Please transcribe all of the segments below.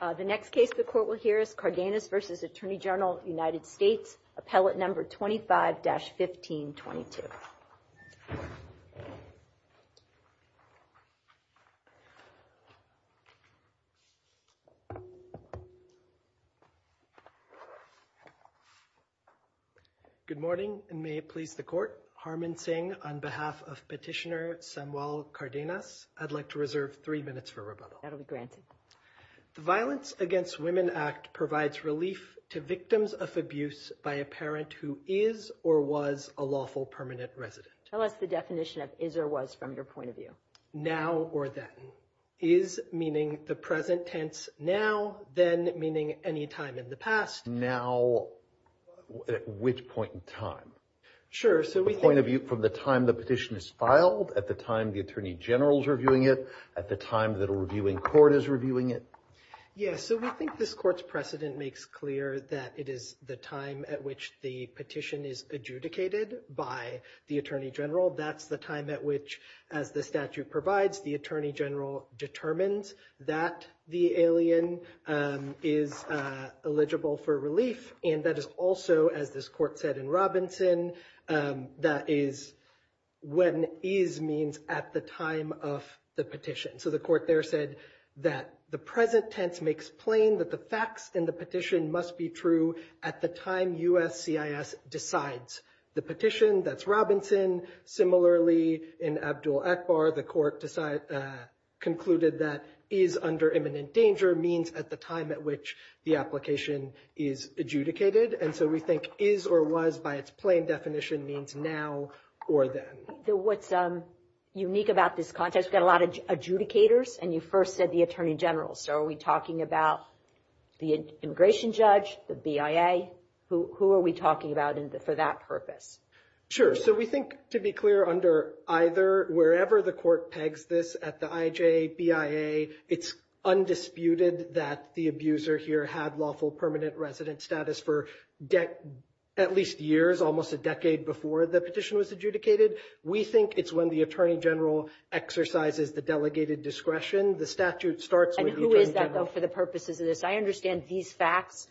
The next case the court will hear is Cardenasvs Attorney General United States, appellate number 25-1522. Good morning and may it please the court, Harman Singh on behalf of Petitioner Samuel Cardenas. I'd like to reserve three minutes for rebuttal. That'll be granted. The Violence Against Women Act provides relief to victims of abuse by a parent who is or was a lawful permanent resident. Tell us the definition of is or was from your point of view. Now or then. Is meaning the present tense, now, then meaning any time in the past. Now, at which point in time? Sure, so we point of view from the time the petition is filed. At the time, the attorney general's reviewing it at the time that a reviewing court is reviewing it. Yes. So we think this court's precedent makes clear that it is the time at which the petition is adjudicated by the attorney general. That's the time at which, as the statute provides, the attorney general determines that the alien is eligible for relief. And that is also, as this court said in Robinson, that is when is means at the time of the petition. So the court there said that the present tense makes plain that the facts in the petition must be true at the time USCIS decides the petition. That's Robinson. Similarly, in Abdul Akbar, the court concluded that is under imminent danger means at the time at which the application is adjudicated. And so we think is or was, by its plain definition, means now or then. What's unique about this context, we've got a lot of adjudicators. And you first said the attorney general. So are we talking about the immigration judge, the BIA? Who are we talking about for that purpose? Sure. So we think, to be clear, under either, wherever the court pegs this at the IJ, BIA, it's undisputed that the abuser here had lawful permanent resident status for at least years, almost a decade before the petition was adjudicated. We think it's when the attorney general exercises the delegated discretion. The statute starts with the attorney general. I understand these facts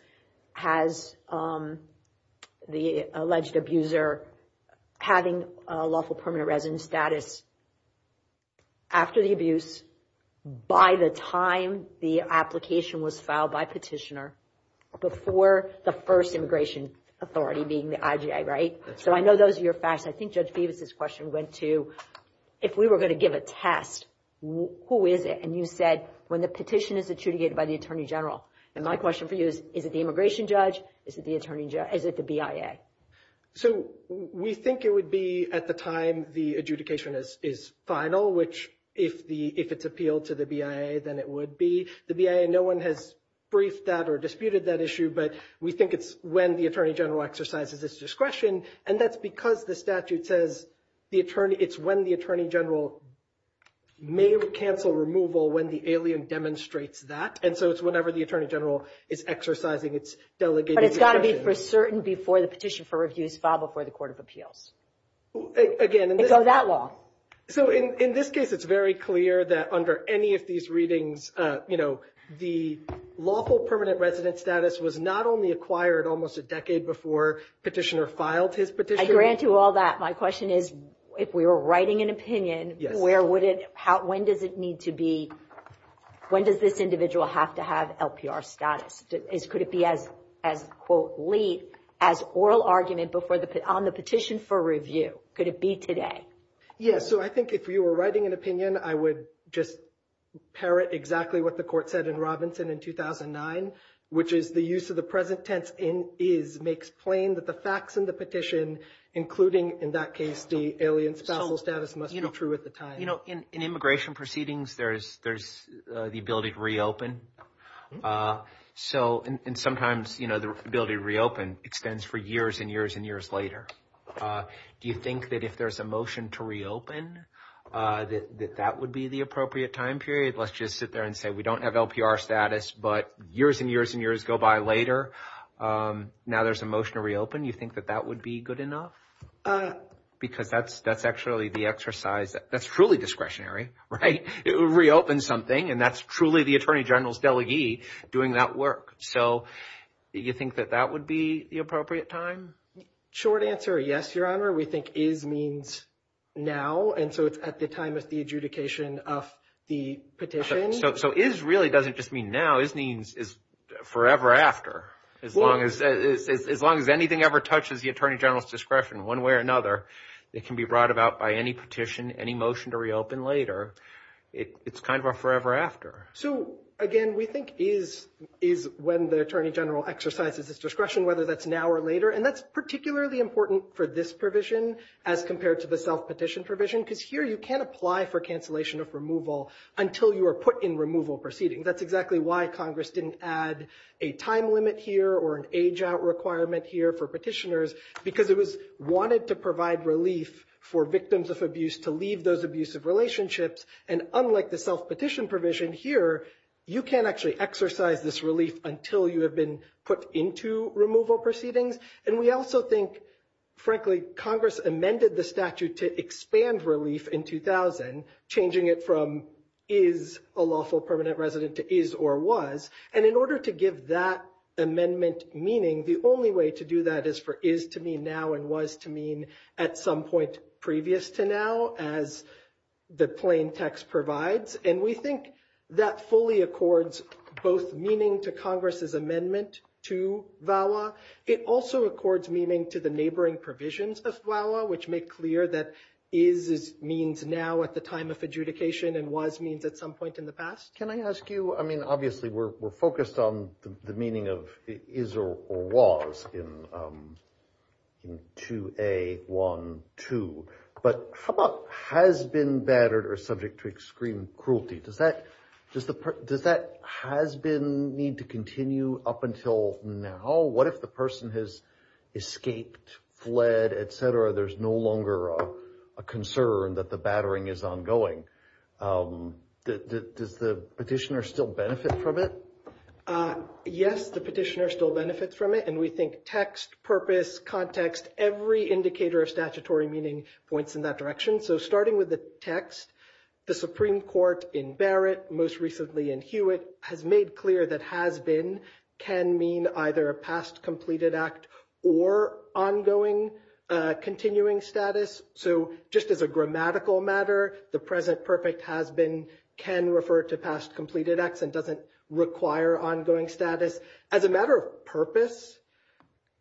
has the alleged abuser having lawful permanent resident status after the abuse, by the time the application was filed by petitioner, before the first immigration authority being the IJ, right? So I know those are your facts. I think Judge Phoebus' question went to, if we were going to give a test, who is it? And you said, when the petition is adjudicated by the attorney general. And my question for you is, is it the immigration judge? Is it the BIA? So we think it would be at the time the adjudication is final, which if it's appealed to the BIA, then it would be. The BIA, no one has briefed that or disputed that issue. But we think it's when the attorney general exercises its discretion. And that's because the statute says it's when the attorney general may cancel removal when the alien demonstrates that. And so it's whenever the attorney general is exercising its delegated discretion. But it's got to be for certain before the petition for review is filed before the Court of Appeals. Again, in this case, it's very clear that under any of these readings, the lawful permanent resident status was not only acquired almost a decade before petitioner filed his petition. I grant you all that. My question is, if we were writing an opinion, where would it, when does it need to be, when does this individual have to have LPR status? Could it be as, quote, lead as oral argument on the petition for review? Could it be today? Yes. So I think if you were writing an opinion, I would just parrot exactly what the court said in Robinson in 2009, which is the use of the present tense in is makes plain that the facts in the petition, including in that case, the alien status must be true at the time. You know, in immigration proceedings, there is there's the ability to reopen. So and sometimes, you know, the ability to reopen extends for years and years and years later. Do you think that if there's a motion to reopen, that that would be the appropriate time period? Let's just sit there and say we don't have LPR status, but years and years and years go by later. Now there's a motion to reopen. You think that that would be good enough? Because that's that's actually the exercise that's truly discretionary. Right. It would reopen something. And that's truly the attorney general's delegate doing that work. So you think that that would be the appropriate time? Short answer. Yes, your honor. We think is means now. And so it's at the time of the adjudication of the petition. So is really doesn't just mean now is means is forever after as long as as long as anything ever touches the attorney general's discretion one way or another. It can be brought about by any petition, any motion to reopen later. It's kind of a forever after. So, again, we think is is when the attorney general exercises his discretion, whether that's now or later. And that's particularly important for this provision as compared to the self petition provision, because here you can't apply for cancellation of removal until you are put in removal proceeding. That's exactly why Congress didn't add a time limit here or an age out requirement here for petitioners, because it was wanted to provide relief for victims of abuse to leave those abusive relationships. And unlike the self petition provision here, you can't actually exercise this relief until you have been put into removal proceedings. And we also think, frankly, Congress amended the statute to expand relief in 2000, changing it from is a lawful permanent resident to is or was. And in order to give that amendment meaning, the only way to do that is for is to be now and was to mean at some point previous to now, as the plain text provides. And we think that fully accords both meaning to Congress's amendment to VAWA. It also accords meaning to the neighboring provisions of VAWA, which make clear that is means now at the time of adjudication and was means at some point in the past. Can I ask you? I mean, obviously, we're focused on the meaning of is or was in 2A12. But how about has been battered or subject to extreme cruelty? Does that does the does that has been need to continue up until now? What if the person has escaped, fled, et cetera? There's no longer a concern that the battering is ongoing. Does the petitioner still benefit from it? Yes, the petitioner still benefits from it. And we think text, purpose, context, every indicator of statutory meaning points in that direction. So starting with the text, the Supreme Court in Barrett, most recently in Hewitt, has made clear that has been can mean either a past completed act or ongoing continuing status. So just as a grammatical matter, the present perfect has been can refer to past completed acts and doesn't require ongoing status. As a matter of purpose,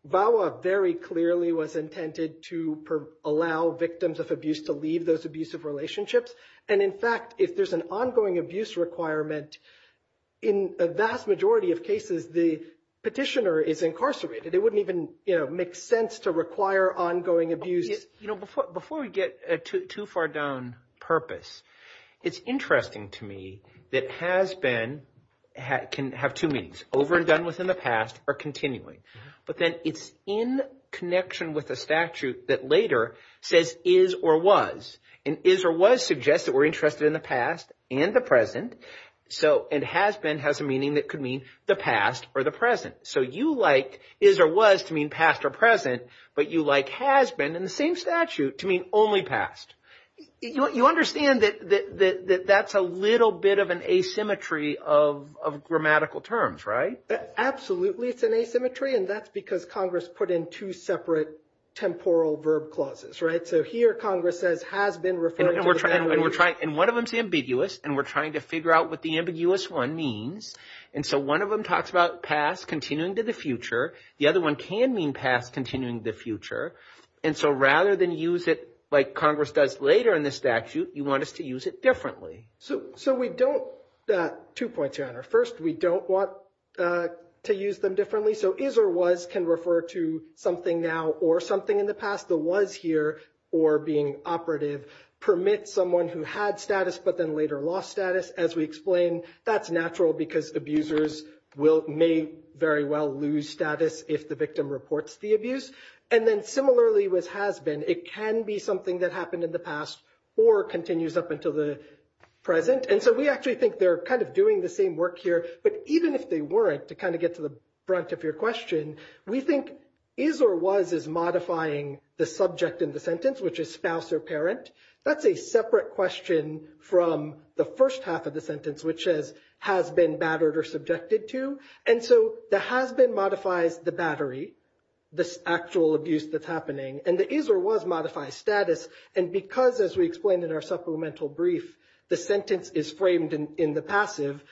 VAWA very clearly was intended to allow victims of abuse to leave those abusive relationships. And in fact, if there's an ongoing abuse requirement in a vast majority of cases, the petitioner is incarcerated. It wouldn't even make sense to require ongoing abuse before we get too far down purpose. It's interesting to me that has been can have two means over and done with in the past or continuing. But then it's in connection with a statute that later says is or was and is or was suggested were interested in the past and the present. So it has been has a meaning that could mean the past or the present. So you like is or was to mean past or present. But you like has been in the same statute to mean only past. You understand that that's a little bit of an asymmetry of grammatical terms, right? Absolutely, it's an asymmetry. And that's because Congress put in two separate temporal verb clauses. Right. So here, Congress says has been referred. And we're trying and we're trying. And one of them is ambiguous. And we're trying to figure out what the ambiguous one means. And so one of them talks about past continuing to the future. The other one can mean past continuing the future. And so rather than use it like Congress does later in the statute, you want us to use it differently. So so we don't that two points on our first. We don't want to use them differently. So is or was can refer to something now or something in the past that was here or being operative. Permit someone who had status but then later lost status. As we explain, that's natural because abusers may very well lose status if the victim reports the abuse. And then similarly with has been, it can be something that happened in the past or continues up until the present. And so we actually think they're kind of doing the same work here. But even if they weren't, to kind of get to the brunt of your question, we think is or was is modifying the subject in the sentence, which is spouse or parent. That's a separate question from the first half of the sentence, which says has been battered or subjected to. And so the has been modifies the battery. This actual abuse that's happening and the is or was modified status. And because, as we explained in our supplemental brief, the sentence is framed in the passive.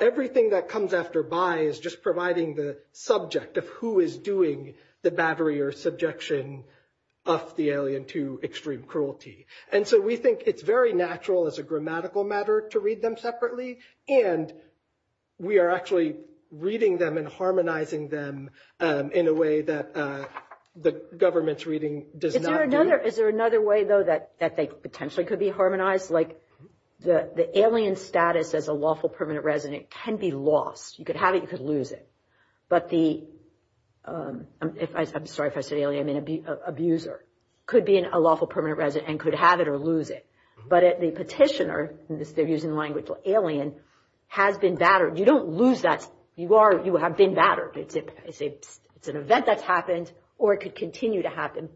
Everything that comes after by is just providing the subject of who is doing the battery or subjection of the alien to extreme cruelty. And so we think it's very natural as a grammatical matter to read them separately. And we are actually reading them and harmonizing them in a way that the government's reading does not. Is there another way, though, that they potentially could be harmonized? Like the alien status as a lawful permanent resident can be lost. You could have it, you could lose it. But the, I'm sorry if I said alien, I mean abuser, could be a lawful permanent resident and could have it or lose it. But the petitioner, they're using the language alien, has been battered. You don't lose that. You have been battered. It's an event that's happened or it could continue to happen.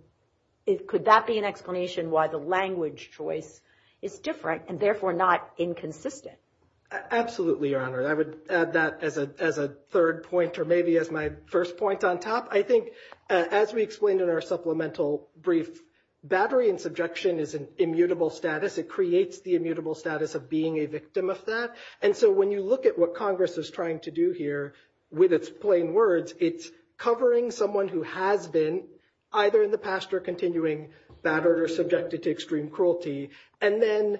Could that be an explanation why the language choice is different and therefore not inconsistent? Absolutely, Your Honor. I would add that as a third point or maybe as my first point on top. I think, as we explained in our supplemental brief, battery and subjection is an immutable status. It creates the immutable status of being a victim of that. And so when you look at what Congress is trying to do here with its plain words, it's covering someone who has been either in the past or continuing, battered or subjected to extreme cruelty. And then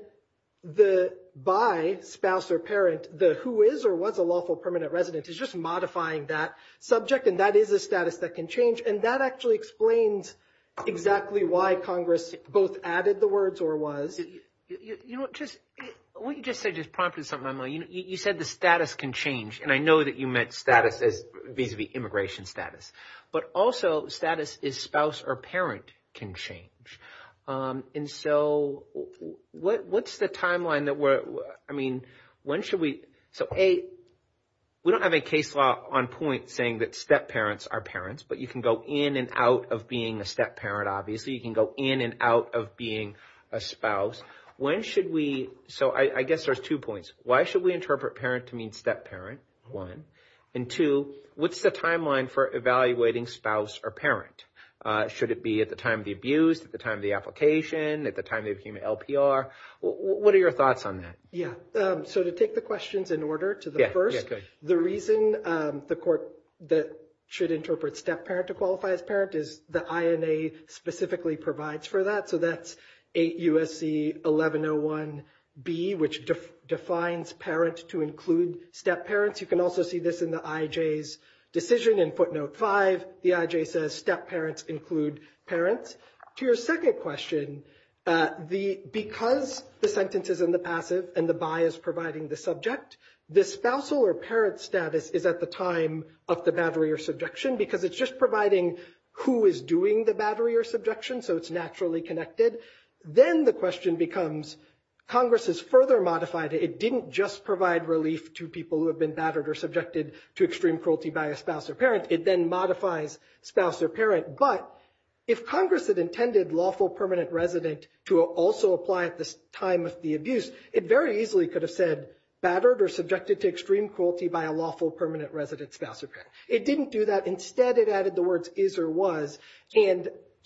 the by spouse or parent, the who is or was a lawful permanent resident is just modifying that subject. And that is a status that can change. And that actually explains exactly why Congress both added the words or was. What you just said just prompted something. You said the status can change. And I know that you meant status as vis-a-vis immigration status. But also status is spouse or parent can change. And so what's the timeline that we're – I mean when should we – so, A, we don't have a case law on point saying that step parents are parents. But you can go in and out of being a step parent, obviously. You can go in and out of being a spouse. When should we – so I guess there's two points. Why should we interpret parent to mean step parent, one? And two, what's the timeline for evaluating spouse or parent? Should it be at the time of the abuse, at the time of the application, at the time they became an LPR? What are your thoughts on that? Yeah, so to take the questions in order to the first, the reason the court should interpret step parent to qualify as parent is the INA specifically provides for that. So that's 8 U.S.C. 1101B, which defines parent to include step parents. You can also see this in the IJ's decision in footnote 5. The IJ says step parents include parents. To your second question, because the sentence is in the passive and the by is providing the subject, the spousal or parent status is at the time of the battery or subjection, because it's just providing who is doing the battery or subjection, so it's naturally connected. Then the question becomes Congress has further modified it. It didn't just provide relief to people who have been battered or subjected to extreme cruelty by a spouse or parent. It then modifies spouse or parent. But if Congress had intended lawful permanent resident to also apply at this time of the abuse, it very easily could have said battered or subjected to extreme cruelty by a lawful permanent resident spouse or parent. It didn't do that. Instead, it added the words is or was.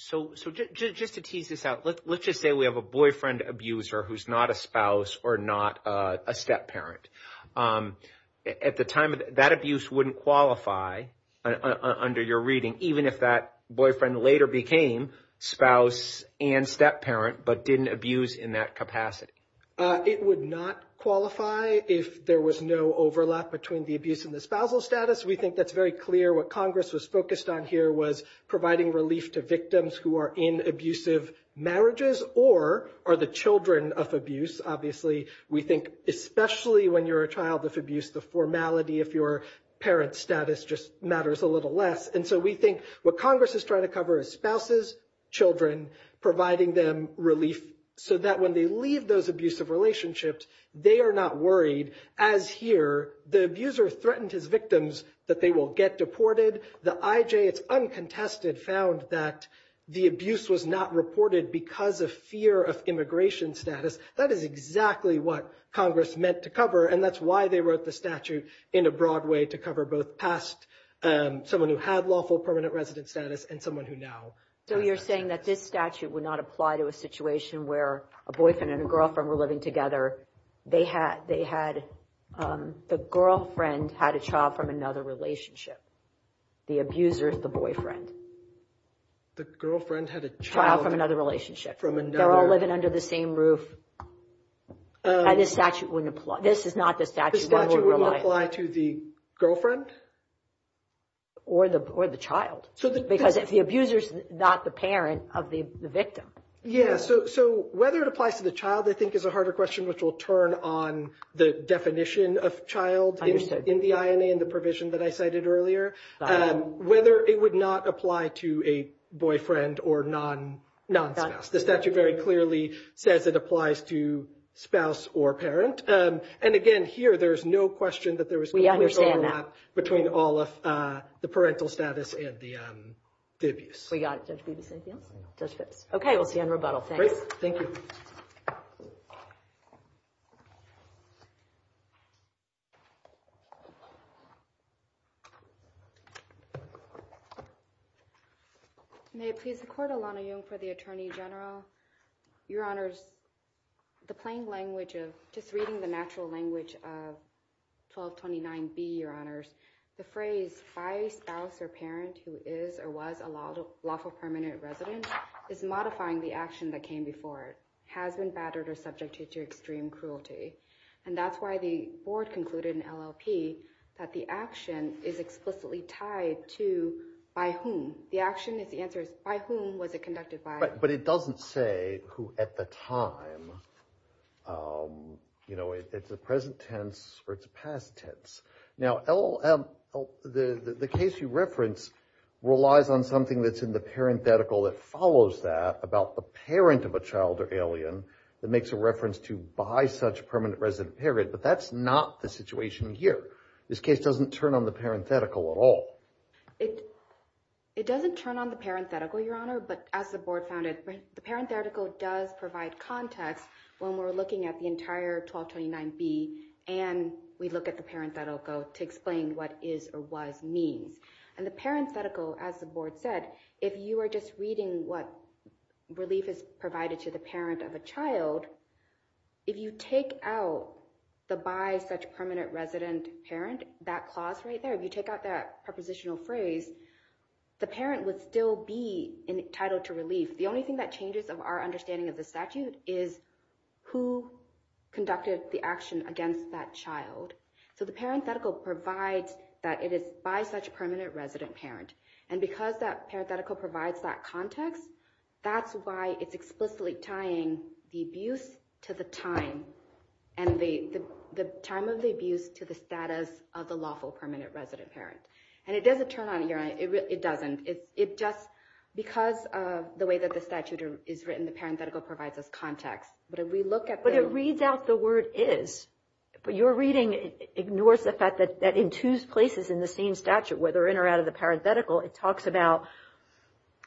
So just to tease this out, let's just say we have a boyfriend abuser who's not a spouse or not a step parent. At the time, that abuse wouldn't qualify under your reading, even if that boyfriend later became spouse and step parent but didn't abuse in that capacity. It would not qualify if there was no overlap between the abuse and the spousal status. We think that's very clear. What Congress was focused on here was providing relief to victims who are in abusive marriages or are the children of abuse. Obviously, we think especially when you're a child of abuse, the formality of your parent status just matters a little less. And so we think what Congress is trying to cover is spouses, children, providing them relief, so that when they leave those abusive relationships, they are not worried. As here, the abuser threatened his victims that they will get deported. The IJ, it's uncontested, found that the abuse was not reported because of fear of immigration status. That is exactly what Congress meant to cover, and that's why they wrote the statute in a broad way to cover both past someone who had lawful permanent resident status and someone who now. So you're saying that this statute would not apply to a situation where a boyfriend and a girlfriend were living together. They had the girlfriend had a child from another relationship. The abuser is the boyfriend. The girlfriend had a child from another relationship. They're all living under the same roof. This statute wouldn't apply. This is not the statute. The statute wouldn't apply to the girlfriend? Or the child. Because if the abuser's not the parent of the victim. Yeah, so whether it applies to the child, I think, is a harder question, which will turn on the definition of child in the INA and the provision that I cited earlier. Whether it would not apply to a boyfriend or non-spouse. The statute very clearly says it applies to spouse or parent. And again, here, there's no question that there was a clear overlap between all of the parental status and the abuse. We got it, Judge Bibas. Anything else, Judge Phipps? Okay, we'll see you on rebuttal. Great, thank you. May it please the Court, Alana Young for the Attorney General. Your Honors, the plain language of just reading the natural language of 1229B, Your Honors. The phrase, by spouse or parent who is or was a lawful permanent resident is modifying the action that came before it, has been battered or subjected to extreme cruelty. And that's why the Board concluded in LLP that the action is explicitly tied to by whom. The action is the answer is by whom was it conducted by. But it doesn't say who at the time. You know, it's a present tense or it's a past tense. Now, the case you reference relies on something that's in the parenthetical that follows that about the parent of a child or alien that makes a reference to by such permanent resident parent. But that's not the situation here. This case doesn't turn on the parenthetical at all. It doesn't turn on the parenthetical, Your Honor. But as the Board found it, the parenthetical does provide context when we're looking at the entire 1229B and we look at the parenthetical to explain what is or was means. And the parenthetical, as the Board said, if you are just reading what relief is provided to the parent of a child. If you take out the by such permanent resident parent, that clause right there, if you take out that prepositional phrase, the parent would still be entitled to relief. The only thing that changes of our understanding of the statute is who conducted the action against that child. So the parenthetical provides that it is by such permanent resident parent. And because that parenthetical provides that context, that's why it's explicitly tying the abuse to the time and the time of the abuse to the status of the lawful permanent resident parent. And it doesn't turn on, Your Honor, it doesn't. It just, because of the way that the statute is written, the parenthetical provides us context. But if we look at the... It talks about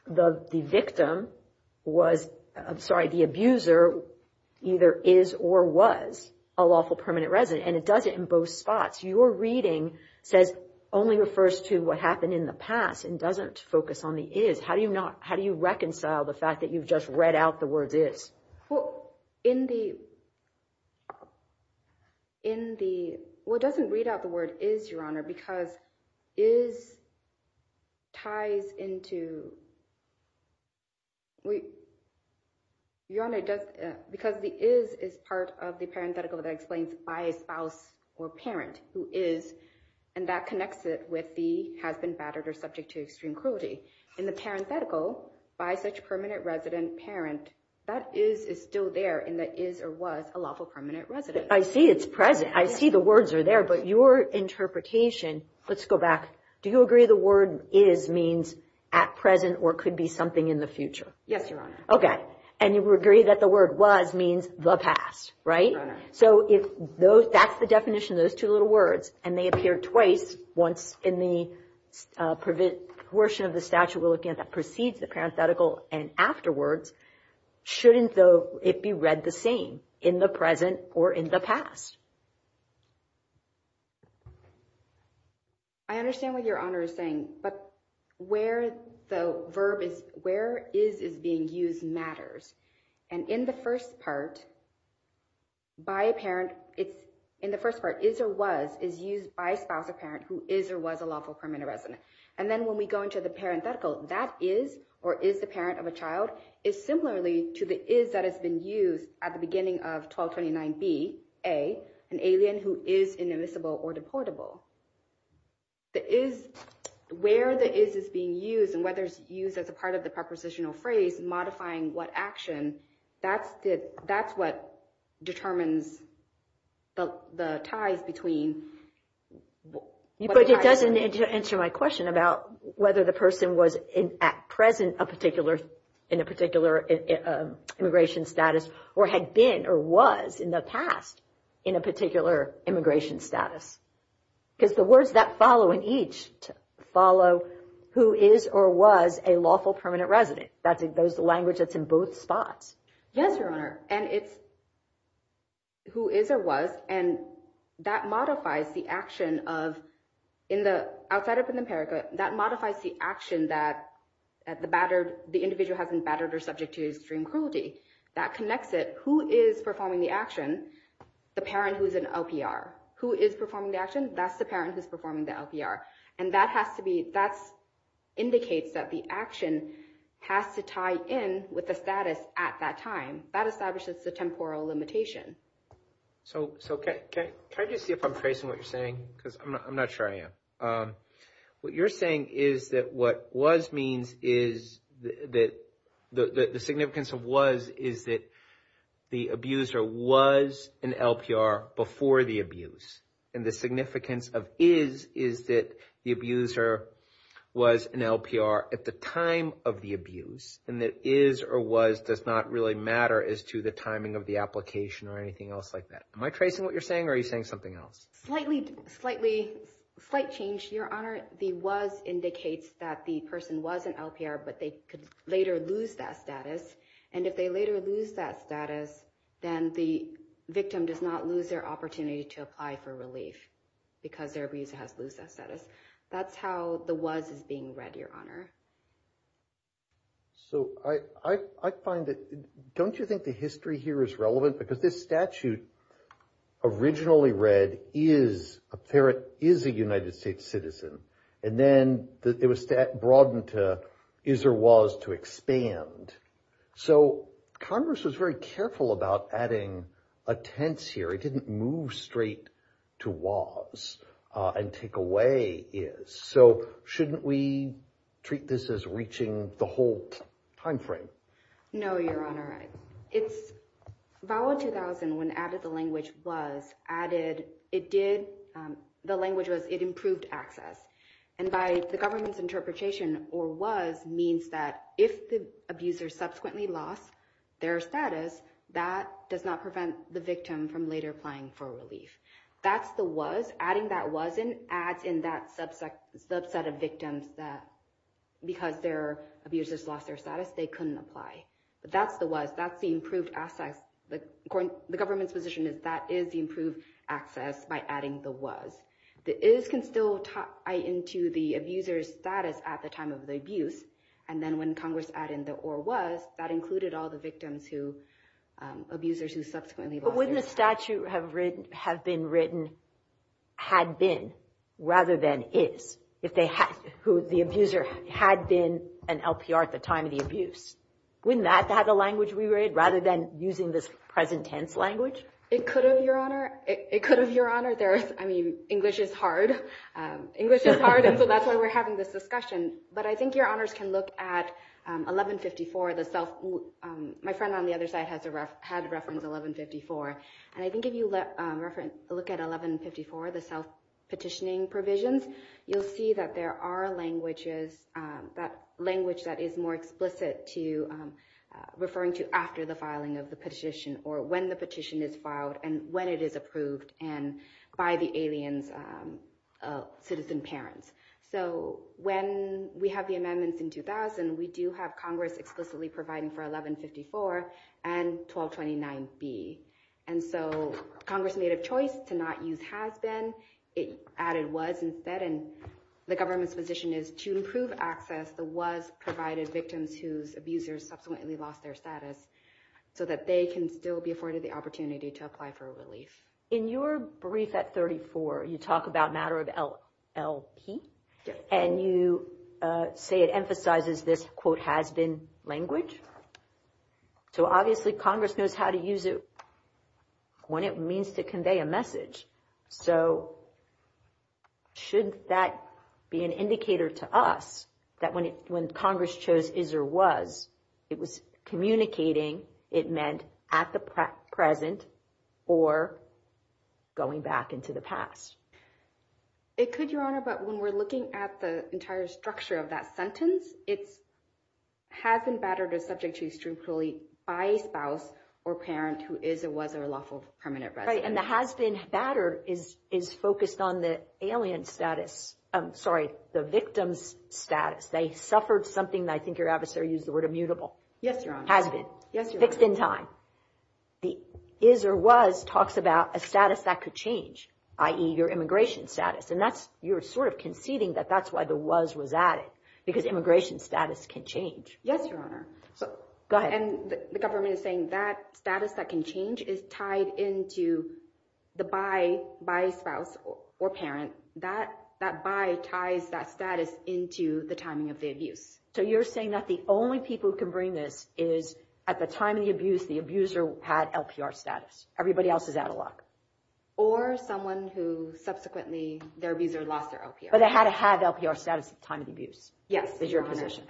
the victim was, I'm sorry, the abuser either is or was a lawful permanent resident. And it does it in both spots. Your reading says, only refers to what happened in the past and doesn't focus on the is. How do you reconcile the fact that you've just read out the word is? Well, in the... Well, it doesn't read out the word is, Your Honor, because is ties into... Your Honor, because the is is part of the parenthetical that explains by a spouse or parent who is, and that connects it with the has been battered or subject to extreme cruelty. In the parenthetical, by such permanent resident parent, that is is still there in the is or was a lawful permanent resident. I see it's present. I see the words are there, but your interpretation... Let's go back. Do you agree the word is means at present or could be something in the future? Yes, Your Honor. Okay. And you agree that the word was means the past, right? Your Honor. So if that's the definition, those two little words, and they appear twice once in the portion of the statute we're looking at that precedes the parenthetical and afterwards, shouldn't it be read the same in the present or in the past? I understand what Your Honor is saying, but where the verb is, where is is being used matters. And in the first part, by a parent, in the first part, is or was is used by a spouse or parent who is or was a lawful permanent resident. And then when we go into the parenthetical, that is or is the parent of a child is similarly to the is that has been used at the beginning of 1229B, A, an alien who is inadmissible or deportable. The is, where the is is being used and whether it's used as a part of the prepositional phrase, modifying what action, that's what determines the ties between. But it doesn't answer my question about whether the person was at present a particular in a particular immigration status or had been or was in the past in a particular immigration status. Because the words that follow in each follow who is or was a lawful permanent resident. That's the language that's in both spots. Yes, Your Honor. And it's who is or was, and that modifies the action of, in the, outside of the empirical, that modifies the action that the battered, the individual has been battered or subject to extreme cruelty. That connects it. Who is performing the action? The parent who is an LPR. Who is performing the action? That's the parent who's performing the LPR. And that has to be, that indicates that the action has to tie in with the status at that time. That establishes the temporal limitation. So, can I just see if I'm tracing what you're saying? Because I'm not sure I am. What you're saying is that what was means is that the significance of was is that the abuser was an LPR before the abuse. And the significance of is is that the abuser was an LPR at the time of the abuse. And that is or was does not really matter as to the timing of the application or anything else like that. Am I tracing what you're saying or are you saying something else? Slightly, slightly, slight change, Your Honor. The was indicates that the person was an LPR, but they could later lose that status. And if they later lose that status, then the victim does not lose their opportunity to apply for relief because their abuser has lost that status. That's how the was is being read, Your Honor. So, I find that don't you think the history here is relevant? Because this statute originally read is a parrot is a United States citizen. And then it was broadened to is or was to expand. So, Congress was very careful about adding a tense here. It didn't move straight to was and take away is. So, shouldn't we treat this as reaching the whole time frame? No, Your Honor. It's valid 2000 when added the language was added. It did. The language was it improved access. And by the government's interpretation or was means that if the abuser subsequently lost their status, that does not prevent the victim from later applying for relief. That's the was. Adding that was adds in that subset of victims that because their abusers lost their status, they couldn't apply. But that's the was. That's the improved access. The government's position is that is the improved access by adding the was. The is can still tie into the abuser's status at the time of the abuse. And then when Congress added the or was, that included all the victims who, abusers who subsequently lost their status. But wouldn't the statute have been written had been rather than is if the abuser had been an LPR at the time of the abuse? Wouldn't that have the language we read rather than using this present tense language? It could have, Your Honor. It could have, Your Honor. I mean, English is hard. English is hard. And so that's why we're having this discussion. But I think Your Honors can look at 1154. My friend on the other side had reference to 1154. And I think if you look at 1154, the self-petitioning provisions, you'll see that there are languages, that language that is more explicit to referring to after the filing of the petition or when the petition is filed and when it is approved and by the alien's citizen parents. So when we have the amendments in 2000, we do have Congress explicitly providing for 1154 and 1229B. And so Congress made a choice to not use has been. It added was instead. And the government's position is to improve access to was provided victims whose abusers subsequently lost their status so that they can still be afforded the opportunity to apply for relief. In your brief at 34, you talk about matter of LLP. And you say it emphasizes this, quote, has been language. So obviously Congress knows how to use it when it means to convey a message. So should that be an indicator to us that when Congress chose is or was, it was communicating, it meant at the present or going back into the past? It could, Your Honor, but when we're looking at the entire structure of that sentence, it's has been battered or subject to extricately by a spouse or parent who is or was a lawful permanent resident. And the has been battered is focused on the alien status. I'm sorry, the victim's status. They suffered something that I think your adversary used the word immutable. Yes, Your Honor. Has been. Yes, Your Honor. Fixed in time. The is or was talks about a status that could change, i.e., your immigration status. And you're sort of conceding that that's why the was was added, because immigration status can change. Yes, Your Honor. Go ahead. And the government is saying that status that can change is tied into the by spouse or parent. That by ties that status into the timing of the abuse. So you're saying that the only people who can bring this is at the time of the abuse, the abuser had LPR status. Everybody else is out of luck. Or someone who subsequently, their abuser lost their LPR. But they had to have LPR status at the time of the abuse. Yes, Your Honor. Is your position.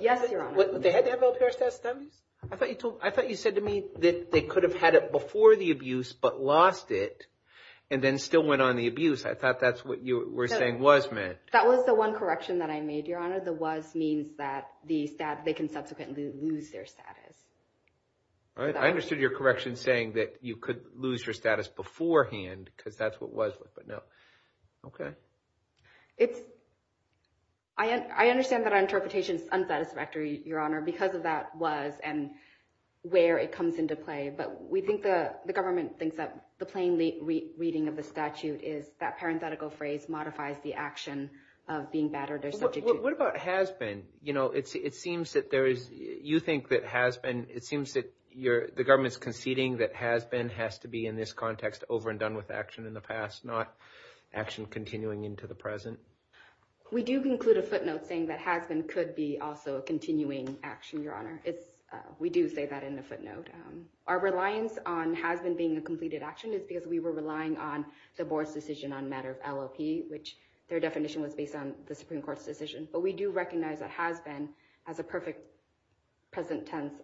Yes, Your Honor. They had to have LPR status? I thought you said to me that they could have had it before the abuse but lost it and then still went on the abuse. I thought that's what you were saying was meant. That was the one correction that I made, Your Honor. That the was means that they can subsequently lose their status. All right. I understood your correction saying that you could lose your status beforehand because that's what was. But no. Okay. I understand that our interpretation is unsatisfactory, Your Honor, because of that was and where it comes into play. But we think the government thinks that the plain reading of the statute is that parenthetical phrase modifies the action of being battered or subject to abuse. What about has been? You know, it seems that there is. You think that has been. It seems that the government's conceding that has been has to be in this context over and done with action in the past, not action continuing into the present. We do conclude a footnote saying that has been could be also a continuing action, Your Honor. We do say that in the footnote. Our reliance on has been being a completed action is because we were relying on the board's decision on matter of LLP, which their definition was based on the Supreme Court's decision. But we do recognize that has been as a perfect present tense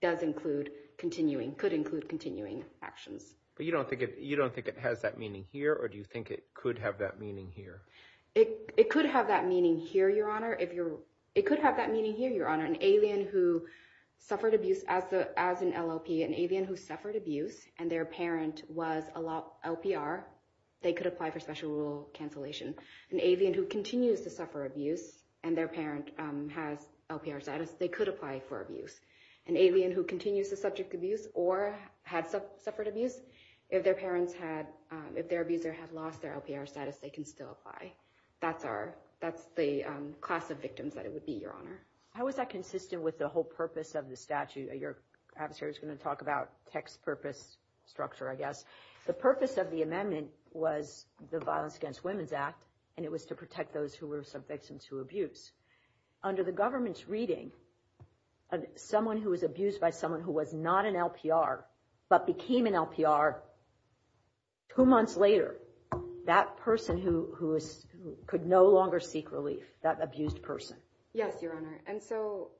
does include continuing could include continuing actions. But you don't think you don't think it has that meaning here or do you think it could have that meaning here? It could have that meaning here, Your Honor. It could have that meaning here, Your Honor. An alien who suffered abuse as an LLP, an alien who suffered abuse and their parent was allowed LPR, they could apply for special rule cancellation. An alien who continues to suffer abuse and their parent has LPR status, they could apply for abuse. An alien who continues to subject abuse or had suffered abuse, if their parents had, if their abuser had lost their LPR status, they can still apply. That's our that's the class of victims that it would be, Your Honor. How is that consistent with the whole purpose of the statute? Your adversary is going to talk about text purpose structure, I guess. The purpose of the amendment was the Violence Against Women's Act, and it was to protect those who were victims to abuse. Under the government's reading of someone who was abused by someone who was not an LPR but became an LPR. Two months later, that person who could no longer seek relief, that abused person. Yes, Your Honor. And so.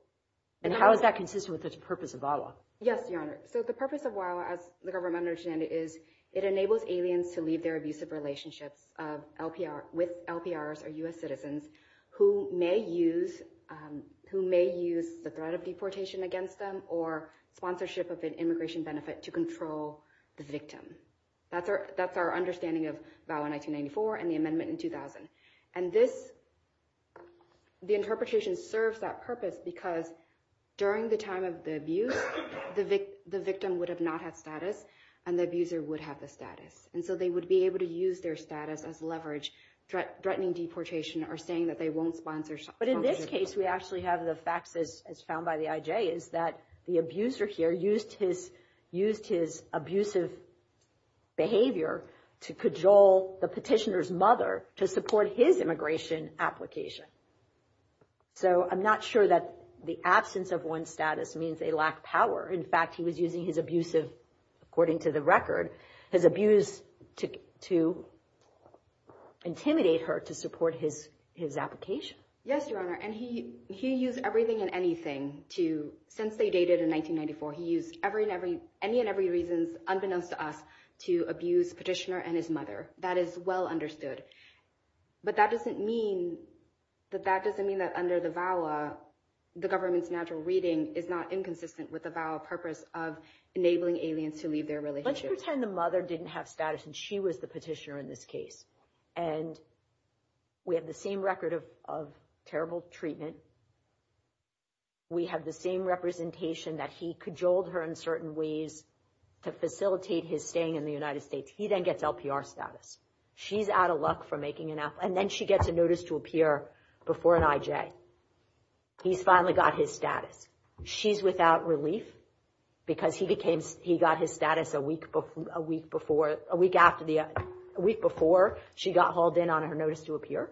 And how is that consistent with the purpose of VAWA? Yes, Your Honor. So the purpose of VAWA, as the government understand it, is it enables aliens to leave their abusive relationships of LPR with LPRs or U.S. citizens who may use who may use the threat of deportation against them or sponsorship of an immigration benefit to control the victim. That's our that's our understanding of VAWA 1994 and the amendment in 2000. And this, the interpretation serves that purpose because during the time of the abuse, the victim would have not had status and the abuser would have the status. And so they would be able to use their status as leverage, threatening deportation or saying that they won't sponsor. But in this case, we actually have the facts, as found by the IJ, is that the abuser here used his used his abusive behavior to cajole the petitioner's mother to support his immigration application. So I'm not sure that the absence of one status means they lack power. In fact, he was using his abusive, according to the record, his abuse to to intimidate her to support his his application. Yes, Your Honor. And he he used everything and anything to since they dated in 1994. He used every and every any and every reasons, unbeknownst to us, to abuse petitioner and his mother. That is well understood. But that doesn't mean that that doesn't mean that under the VAWA, the government's natural reading is not inconsistent with the VAWA purpose of enabling aliens to leave their relationship. Let's pretend the mother didn't have status and she was the petitioner in this case. And we have the same record of of terrible treatment. We have the same representation that he cajoled her in certain ways to facilitate his staying in the United States. He then gets LPR status. She's out of luck for making it up. And then she gets a notice to appear before an IJ. He's finally got his status. She's without relief because he became he got his status a week before a week after the week before she got hauled in on her notice to appear.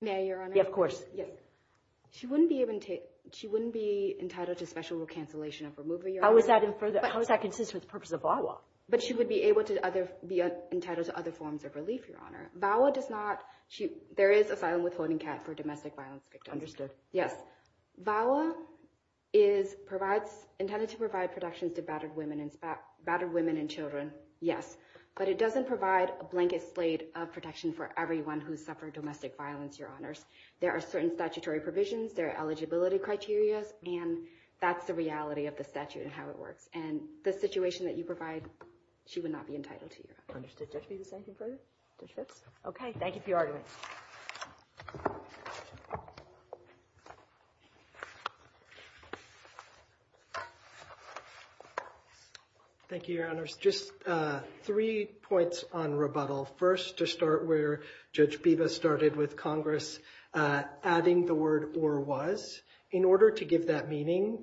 Mayor, of course, she wouldn't be able to. She wouldn't be entitled to special recancellation of her movie. How is that in further? How is that consistent with the purpose of VAWA? But she would be able to be entitled to other forms of relief. Your Honor, VAWA does not. There is asylum with holding cat for domestic violence. Understood. Yes. VAWA is provides intended to provide protections to battered women and battered women and children. Yes. But it doesn't provide a blanket slate of protection for everyone who suffered domestic violence. Your Honors, there are certain statutory provisions, their eligibility criteria. And that's the reality of the statute and how it works. And the situation that you provide, she would not be entitled to. Understood. Thank you for your argument. Thank you, Your Honors. Just three points on rebuttal. First, to start where Judge Biba started with Congress, adding the word or was in order to give that meaning,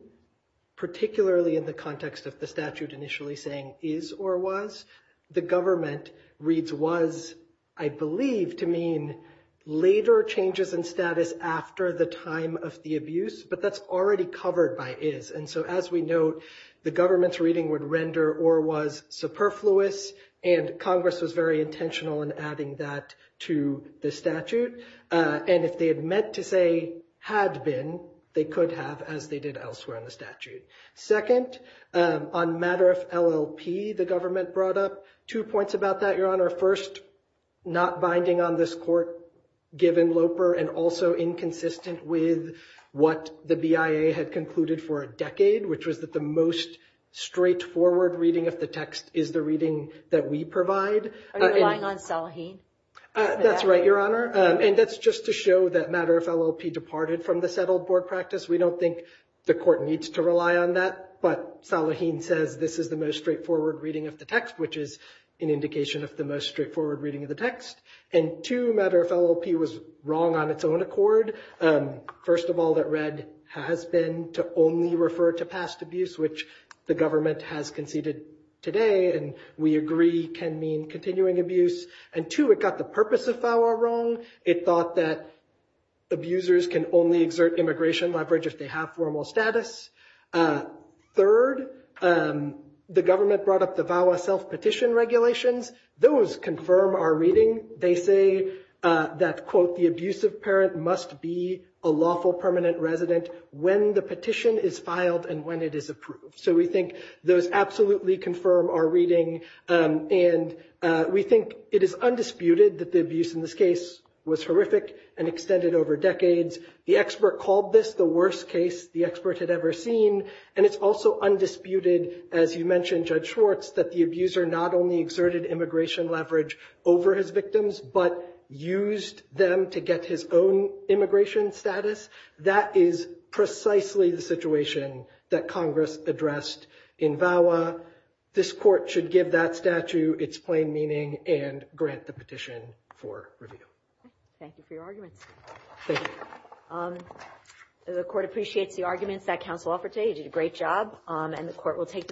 particularly in the context of the statute initially saying is or was. The government reads was, I believe, to mean later changes in status after the time of the abuse. But that's already covered by is. And so as we know, the government's reading would render or was superfluous. And Congress was very intentional in adding that to the statute. And if they had meant to say had been, they could have, as they did elsewhere in the statute. Second, on matter of LLP, the government brought up two points about that. Your Honor, first, not binding on this court given Loper and also inconsistent with what the BIA had concluded for a decade, which was that the most straightforward reading of the text is the reading that we provide. Are you relying on Salaheen? That's right, Your Honor. And that's just to show that matter of LLP departed from the settled board practice. We don't think the court needs to rely on that. But Salaheen says this is the most straightforward reading of the text, which is an indication of the most straightforward reading of the text. And two, matter of LLP was wrong on its own accord. First of all, that read has been to only refer to past abuse, which the government has conceded today. And we agree can mean continuing abuse. And two, it got the purpose of VAWA wrong. It thought that abusers can only exert immigration leverage if they have formal status. Third, the government brought up the VAWA self-petition regulations. Those confirm our reading. They say that, quote, the abusive parent must be a lawful permanent resident when the petition is filed and when it is approved. So we think those absolutely confirm our reading. And we think it is undisputed that the abuse in this case was horrific and extended over decades. The expert called this the worst case the expert had ever seen. And it's also undisputed, as you mentioned, Judge Schwartz, that the abuser not only exerted immigration leverage over his victims, but used them to get his own immigration status. That is precisely the situation that Congress addressed in VAWA. This court should give that statute its plain meaning and grant the petition for review. Thank you for your arguments. Thank you. The court appreciates the arguments that counsel offered today. You did a great job. And the court will take them out.